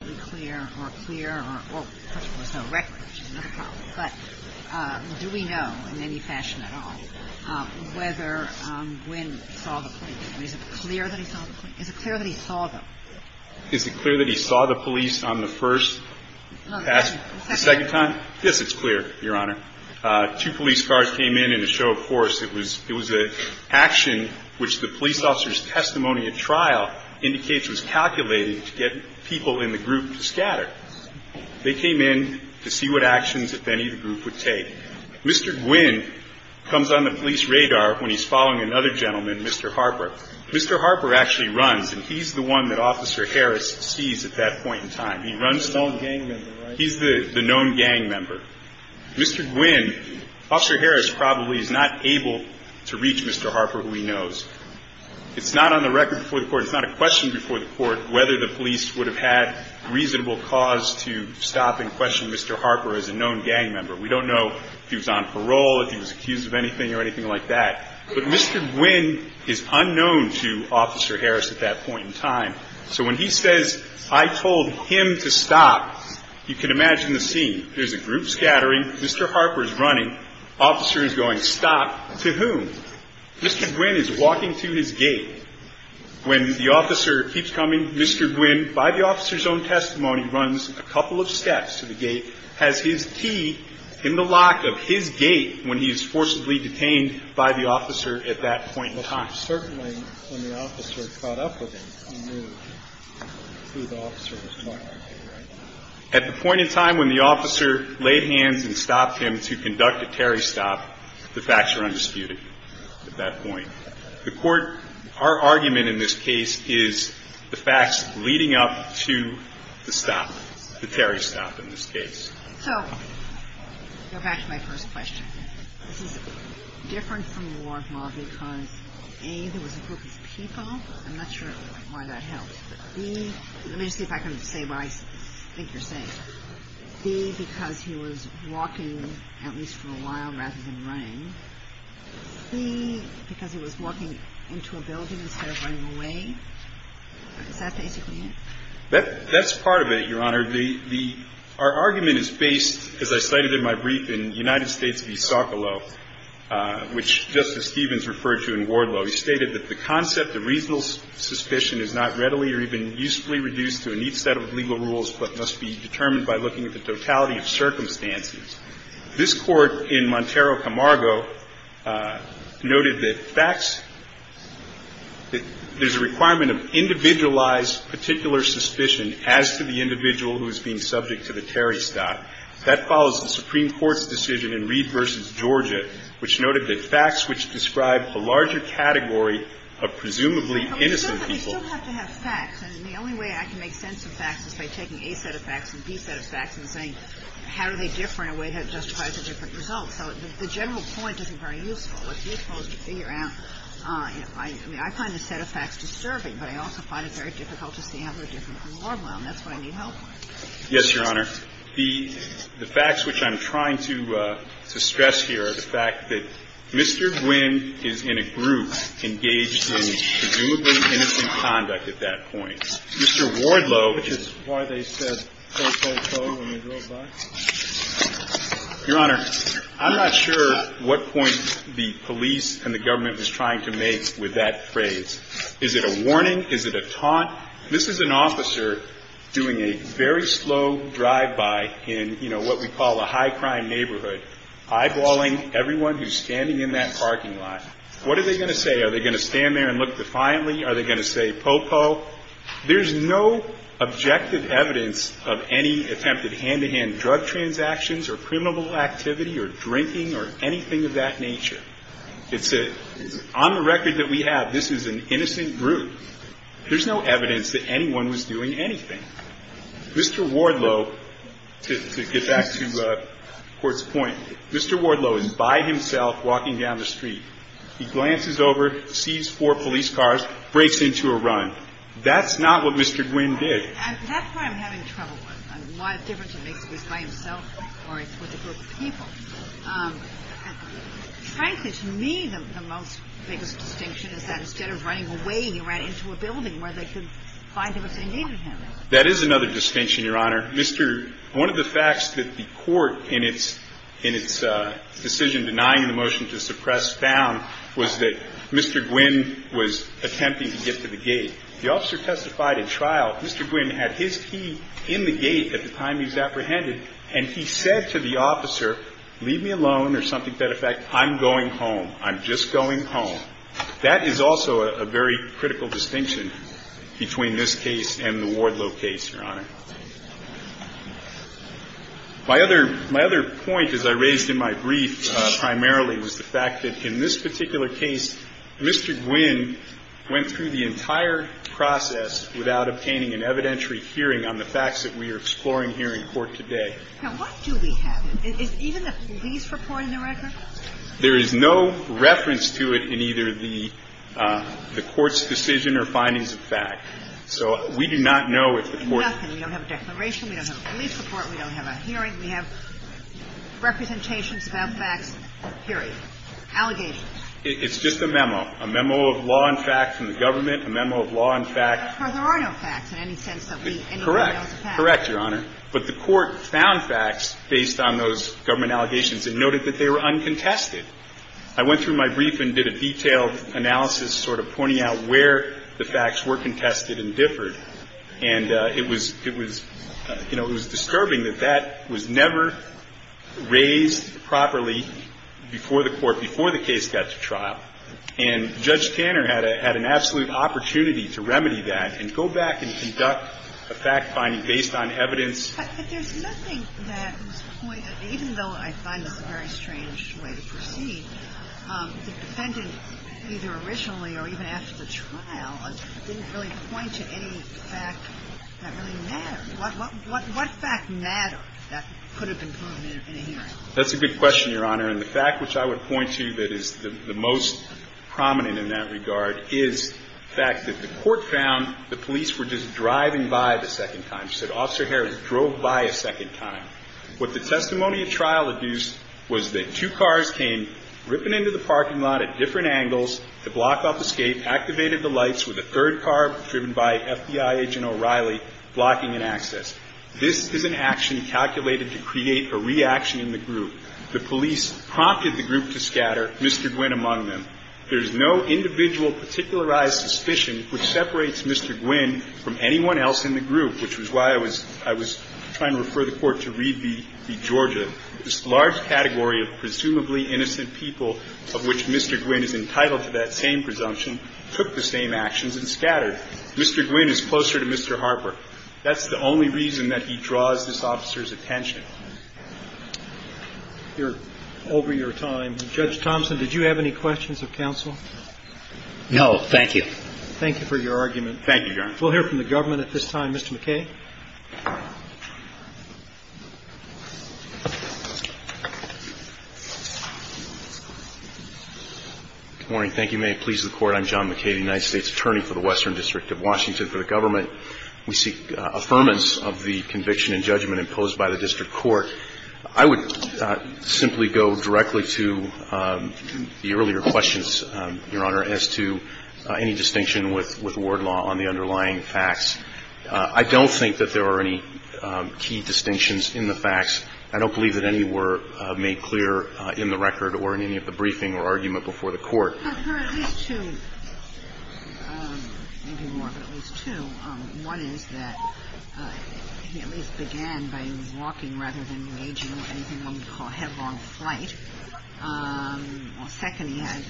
Is it clear that he saw the police on the first pass? The second time? Yes, it's clear, Your Honor. Two police cars came in in a show of force. It was an action which the police officer's testimony at trial indicates was calculated to get people in the group to scatter. They came in to see what actions, if any, the group would take. Mr. Gwin comes on the police radar when he's following another gentleman, Mr. Harper. Mr. Harper actually runs, and he's the one that Officer Harris sees at that point in time. He's the known gang member. Mr. Gwin, Officer Harris probably is not able to reach Mr. Harper, who he knows. It's not on the record before the Court. It's not a question before the Court whether the police would have had reasonable cause to stop and question Mr. Harper as a known gang member. We don't know if he was on parole, if he was accused of anything or anything like that. But Mr. Gwin is unknown to Officer Harris at that point in time. So when he says, I told him to stop, you can imagine the scene. There's a group scattering. Mr. Harper is running. Officer is going, stop. To whom? Mr. Gwin is walking to his gate. When the officer keeps coming, Mr. Gwin, by the officer's own testimony, runs a couple of steps to the gate, has his key in the lock of his gate when he is forcibly detained by the officer at that point in time. Certainly, when the officer caught up with him, he knew who the officer was talking to, right? At the point in time when the officer laid hands and stopped him to conduct a Terry stop, the facts are undisputed at that point. The Court, our argument in this case is the facts leading up to the stop, the Terry stop in this case. So, go back to my first question. This is different from the war of law because, A, there was a group of people. I'm not sure why that helps. But, B, let me see if I can say what I think you're saying. B, because he was walking at least for a while rather than running. C, because he was walking into a building instead of running away. Is that basically it? That's part of it, Your Honor. The – our argument is based, as I cited in my brief, in United States v. Socolow, which Justice Stevens referred to in Wardlow. He stated that the concept of reasonable suspicion is not readily or even usefully reduced to a neat set of legal rules but must be determined by looking at the totality of circumstances. This Court, in Montero Camargo, noted that facts – there's a requirement of individualized particular suspicion as to the individual who is being subject to the Terry stop. That follows the Supreme Court's decision in Reed v. Georgia, which noted that facts which describe a larger category of presumably innocent people – I mean, I find the set of facts disturbing, but I also find it very difficult to see how they're different from Wardlow, and that's what I need help with. Yes, Your Honor. The facts which I'm trying to stress here are the fact that Mr. Gwinn is in a group engaged in presumably innocent conduct at that point. Mr. Wardlow, which is why they said po-po-po when they drove by, Your Honor, I'm not sure what point the police and the government was trying to make with that phrase. Is it a warning? Is it a taunt? This is an officer doing a very slow drive-by in, you know, what we call a high-crime neighborhood, eyeballing everyone who's standing in that parking lot. What are they going to say? Are they going to stand there and look defiantly? Are they going to say po-po? There's no objective evidence of any attempted hand-to-hand drug transactions or criminal activity or drinking or anything of that nature. It's a – on the record that we have, this is an innocent group. There's no evidence that anyone was doing anything. Mr. Wardlow, to get back to the Court's point, Mr. Wardlow is by himself walking down the street. He glances over, sees four police cars, breaks into a run. That's not what Mr. Gwinn did. And that's why I'm having trouble with. A lot of difference it makes if he's by himself or with a group of people. Frankly, to me, the most – biggest distinction is that instead of running away, he ran into a building where they could find him if they needed him. That is another distinction, Your Honor. Mr. – one of the facts that the Court in its – in its decision denying the motion to suppress found was that Mr. Gwinn was attempting to get to the gate. The officer testified at trial, Mr. Gwinn had his key in the gate at the time he was apprehended, and he said to the officer, leave me alone, or something to that effect, I'm going home, I'm just going home. That is also a very critical distinction between this case and the Wardlow case, Your Honor. My other – my other point, as I raised in my brief, primarily, was the fact that in this particular case, Mr. Gwinn went through the entire process without obtaining an evidentiary hearing on the facts that we are exploring here in court today. Now, what do we have? Is even the police reporting the record? There is no reference to it in either the – the Court's decision or findings of fact. So we do not know if the Court – Nothing. We don't have a declaration. We don't have a police report. We don't have a hearing. We have representations about facts, period, allegations. It's just a memo, a memo of law and fact from the government, a memo of law and fact – But there are no facts in any sense that we – anybody knows the facts. Correct. Correct, Your Honor. But the Court found facts based on those government allegations and noted that they were uncontested. I went through my brief and did a detailed analysis, sort of pointing out where the facts were contested and differed. And it was – it was – you know, it was disturbing that that was never raised properly before the Court, before the case got to trial. And Judge Tanner had a – had an absolute opportunity to remedy that and go back and deduct a fact finding based on evidence. But there's nothing that was pointed – even though I find this a very strange way to proceed, the defendant either originally or even after the trial didn't really point to any fact that really mattered. What fact mattered that could have been proven in a hearing? That's a good question, Your Honor. And the fact which I would point to that is the most prominent in that regard is the fact that the Court found the police were just driving by the second time. As you said, Officer Harris drove by a second time. What the testimony at trial adduced was that two cars came ripping into the parking lot at different angles to block off escape, activated the lights with a third car driven by FBI agent O'Reilly blocking an access. This is an action calculated to create a reaction in the group. The police prompted the group to scatter Mr. Gwynne among them. There is no individual particularized suspicion which separates Mr. Gwynne from anyone else in the group, which was why I was – I was trying to refer the Court to read the – the Georgia. This large category of presumably innocent people of which Mr. Gwynne is entitled to that same presumption took the same actions and scattered. Mr. Gwynne is closer to Mr. Harper. That's the only reason that he draws this officer's attention. Over your time, Judge Thompson, did you have any questions of counsel? No, thank you. Thank you for your argument. Thank you, Your Honor. We'll hear from the government at this time. Mr. McKay. Good morning. Thank you. May it please the Court. I'm John McKay, the United States Attorney for the Western District of Washington. For the government, we seek affirmance of the conviction and judgment imposed by the District Court. I would simply go directly to the earlier questions, Your Honor, as to any distinction with – with Ward law on the underlying facts. I don't think that there are any key distinctions in the facts. I don't believe that any were made clear in the record or in any of the briefing or argument before the Court. There are at least two – maybe more, but at least two. One is that he at least began by walking rather than waging anything one would call headlong flight. Second, he had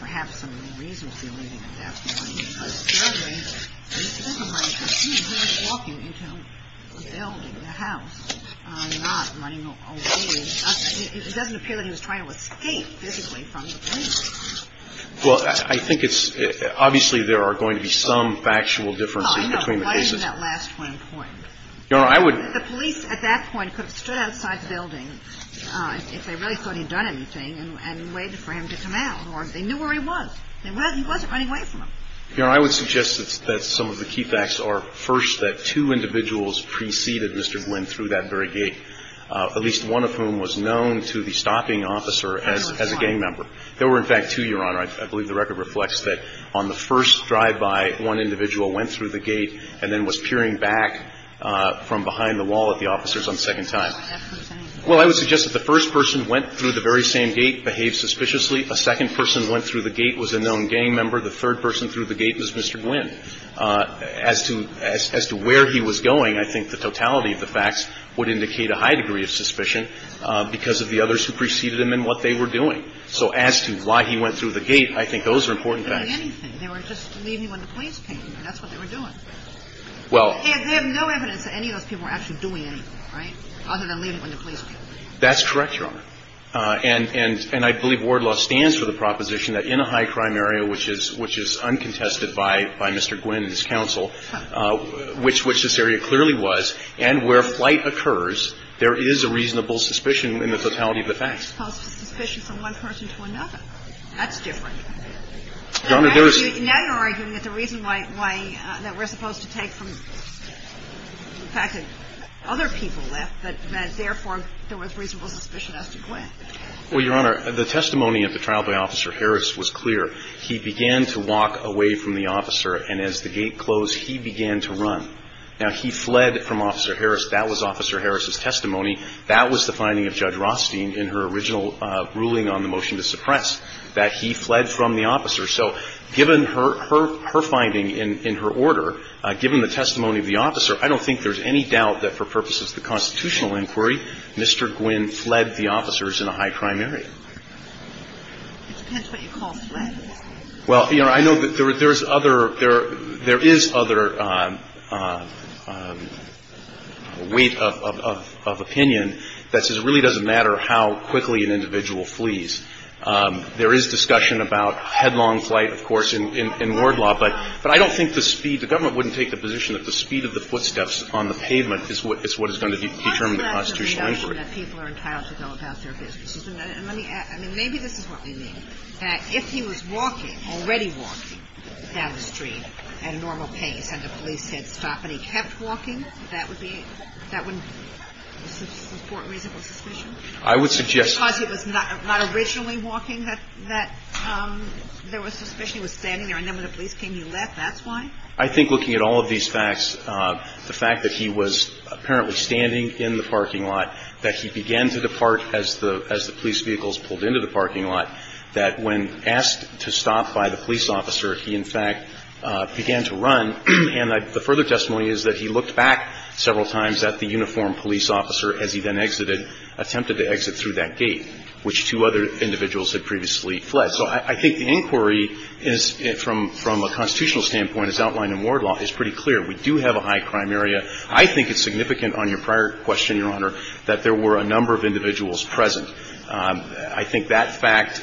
perhaps some reason for leaving at that point. But thirdly, it doesn't look like he was walking into a building, a house, not running away. It doesn't appear that he was trying to escape physically from the building. Well, I think it's – obviously, there are going to be some factual differences between the cases. No, no. Why isn't that last one important? Your Honor, I would – The police at that point could have stood outside the building if they really thought he had done anything and waited for him to come out. Or if they knew where he was, he wasn't running away from them. Your Honor, I would suggest that some of the key facts are, first, that two individuals preceded Mr. Glynn through that very gate. At least one of whom was known to the stopping officer as a gang member. There were, in fact, two, Your Honor. I believe the record reflects that on the first drive-by, one individual went through the gate and then was peering back from behind the wall at the officers on the second time. Well, I would suggest that the first person went through the very same gate, behaved suspiciously. A second person went through the gate, was a known gang member. The third person through the gate was Mr. Glynn. As to – as to where he was going, I think the totality of the facts would indicate a high degree of suspicion because of the others who preceded him and what they were doing. So as to why he went through the gate, I think those are important facts. They weren't doing anything. They were just leaving him in the police painting. That's what they were doing. Well – They have no evidence that any of those people were actually doing anything, right, other than leaving him in the police painting. That's correct, Your Honor. And I believe Ward law stands for the proposition that in a high-crime area, which is uncontested by Mr. Glynn and his counsel, which this area clearly was, and where flight occurs, there is a reasonable suspicion in the totality of the facts. Suspicion from one person to another. That's different. Now you're arguing that the reason why – that we're supposed to take from the fact that other people left, but that therefore there was reasonable suspicion as to who was doing it, is because of the fact that there was a reasonable suspicion in the totality of the facts. Well, Your Honor, the testimony at the trial by Officer Harris was clear. He began to walk away from the officer, and as the gate closed, he began to run. Now, he fled from Officer Harris. That was Officer Harris's testimony. That was the finding of Judge Rothstein in her original ruling on the motion to suppress, that he fled from the officer. So given her finding in her order, given the testimony of the officer, I don't think there's any doubt that for purposes of the constitutional inquiry, Mr. Glynn fled the officers in a high-crime area. It depends what you call fled. Well, Your Honor, I know that there is other – there is other weight of – of – of opinion that says it really doesn't matter how quickly an individual flees. There is discussion about headlong flight, of course, in – in ward law, but I don't think the speed – the government wouldn't take the position that the speed of the footsteps on the pavement is what – is what is going to determine the constitutional inquiry. I'm not saying that people are entitled to go about their business. And let me – I mean, maybe this is what we mean, that if he was walking, already walking down the street at a normal pace, and the police said stop, and he kept walking, that would be – that would – is this important reason for suspicion? I would suggest – Because he was not – not originally walking, that – that there was suspicion he was standing there, and then when the police came, he left. That's why? I think looking at all of these facts, the fact that he was apparently standing in the parking lot, that he began to depart as the – as the police vehicles pulled into the parking lot, that when asked to stop by the police officer, he, in fact, began to run. And I – the further testimony is that he looked back several times at the uniformed police officer as he then exited – attempted to exit through that gate, which two other individuals had previously fled. So I think the inquiry is – from a constitutional standpoint, as outlined in Ward law, is pretty clear. We do have a high-crime area. I think it's significant on your prior question, Your Honor, that there were a number of individuals present. I think that fact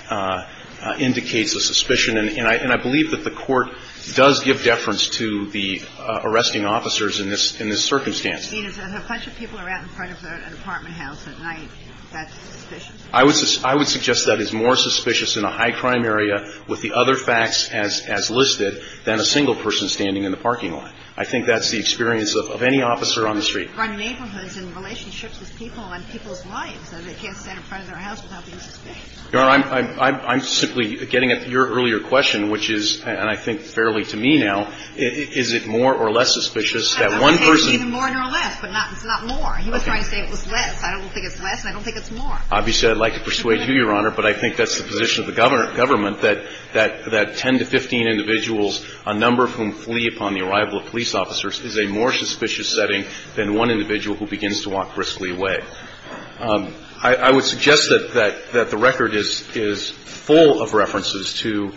indicates a suspicion. And I believe that the Court does give deference to the arresting officers in this – in this circumstance. I mean, if a bunch of people are out in front of an apartment house at night, that's suspicion? I would – I would suggest that is more suspicious in a high-crime area with the other facts as – as listed than a single person standing in the parking lot. I think that's the experience of any officer on the street. But there are neighborhoods and relationships with people and people's lives, and they can't stand in front of their house without being suspected. Your Honor, I'm – I'm simply getting at your earlier question, which is – and I think fairly to me now – is it more or less suspicious that one person – I don't think it's even more than or less, but not – it's not more. He was trying to say it was less. I don't think it's less, and I don't think it's more. Obviously, I'd like to persuade you, Your Honor, but I think that's the position of the government – government, that – that – that 10 to 15 individuals, a number of whom flee upon the arrival of police officers, is a more suspicious setting than one individual who begins to walk briskly away. I – I would suggest that – that – that the record is – is full of references to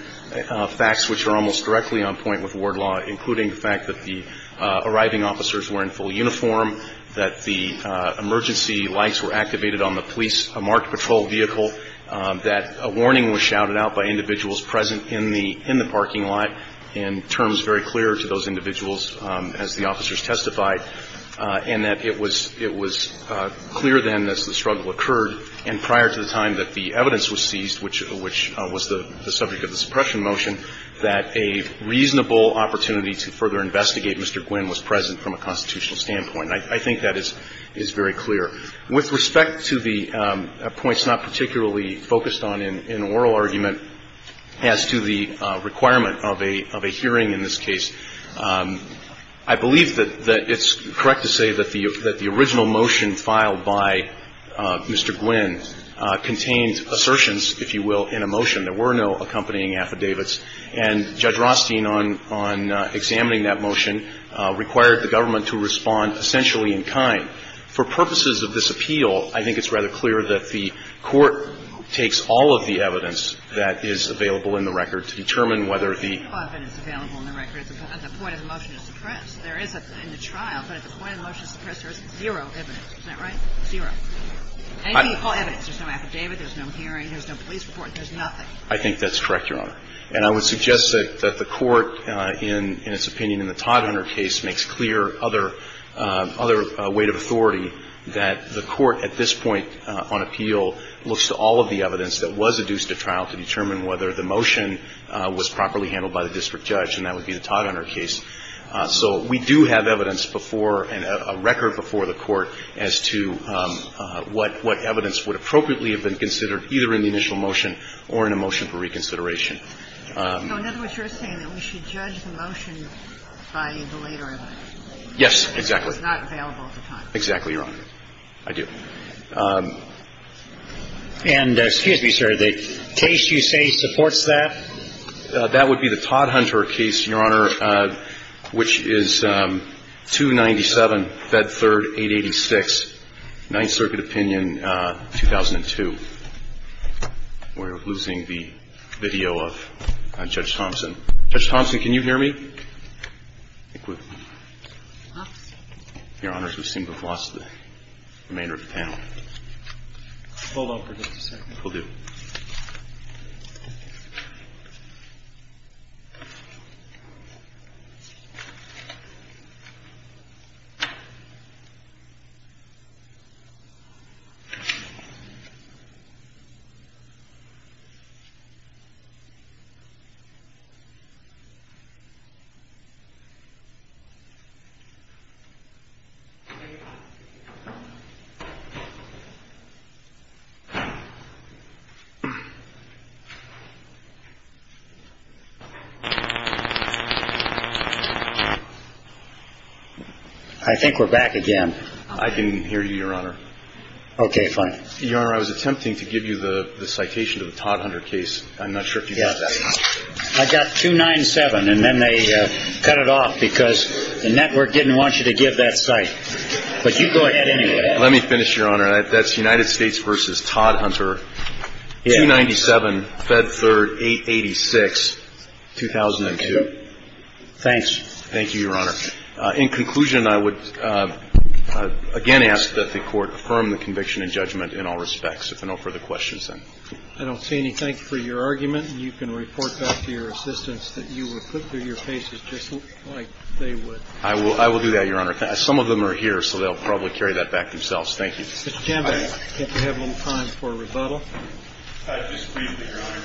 facts which are almost directly on point with ward law, including the fact that the arriving officers were in full uniform, that the emergency lights were activated on the police vehicle, a marked patrol vehicle, that a warning was shouted out by individuals present in the – in the parking lot in terms very clear to those individuals as the officers testified, and that it was – it was clear then as the struggle occurred and prior to the time that the evidence was seized, which – which was the subject of the suppression motion, that a reasonable opportunity to further investigate Mr. Gwinn was present from a constitutional standpoint. I – I think that is – is very clear. With respect to the points not particularly focused on in – in oral argument as to the requirement of a – of a hearing in this case, I believe that – that it's correct to say that the – that the original motion filed by Mr. Gwinn contained assertions, if you will, in a motion. There were no accompanying affidavits, and Judge Rothstein, on – on examining that motion, required the government to respond essentially in kind. For purposes of this appeal, I think it's rather clear that the court takes all of the evidence that is available in the record to determine whether the – But there's no evidence available in the record at the – at the point of the motion to suppress. There is a – in the trial, but at the point of the motion to suppress, there is zero evidence. Isn't that right? Zero. I – And you call evidence. There's no affidavit, there's no hearing, there's no police report, there's nothing. I think that's correct, Your Honor. And I would suggest that – that the court, in – in its opinion, in the Todd-Hunter case, makes clear other – other weight of authority that the court, at this point on appeal, looks to all of the evidence that was adduced at trial to determine whether the motion was properly handled by the district judge, and that would be the Todd-Hunter case. So we do have evidence before – and a record before the court as to what – what evidence would appropriately have been considered, either in the initial motion or in a motion for reconsideration. So in other words, you're saying that we should judge the motion by the later evidence. Yes, exactly. It's not available at the time. Exactly, Your Honor. I do. And excuse me, sir. The case you say supports that? That would be the Todd-Hunter case, Your Honor, which is 297, Fed Third, 886, Ninth Circuit Opinion, 2002. We're losing the video of Judge Thompson. Judge Thompson, can you hear me? Your Honors, we seem to have lost the remainder of the panel. Hold on for just a second. Will do. I think we're back again. I can hear you, Your Honor. Okay, fine. Your Honor, I was attempting to give you the citation to the Todd-Hunter case. I'm not sure if you got that. I got 297, and then they cut it off because the network didn't want you to give that cite. But you go ahead anyway. Let me finish, Your Honor. That's United States v. Todd-Hunter, 297, Fed Third, 886, 2002. Thank you, Your Honor. In conclusion, I would again ask that the Court affirm the conviction and judgment in all respects. If there are no further questions, then. I don't see anything for your argument. You can report back to your assistants that you were put through your paces just like they would. I will do that, Your Honor. Some of them are here, so they'll probably carry that back themselves. Thank you. Mr. Chambis, I think we have a little time for a rebuttal. Just briefly, Your Honor.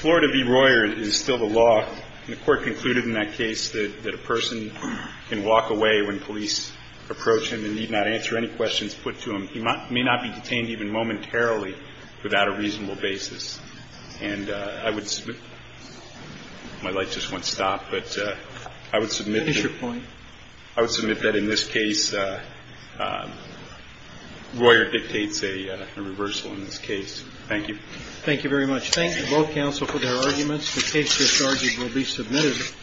Florida v. Royer is still the law, and the Court concluded in that case that a person can walk away when police approach him and need not answer any questions put to him. He may not be detained even momentarily without a reasonable basis. And I would submit my light just won't stop, but I would submit that in this case, Royer dictates a reversal in this case. Thank you. Thank you very much. Thank you, both counsel, for their arguments. The case discharge will be submitted.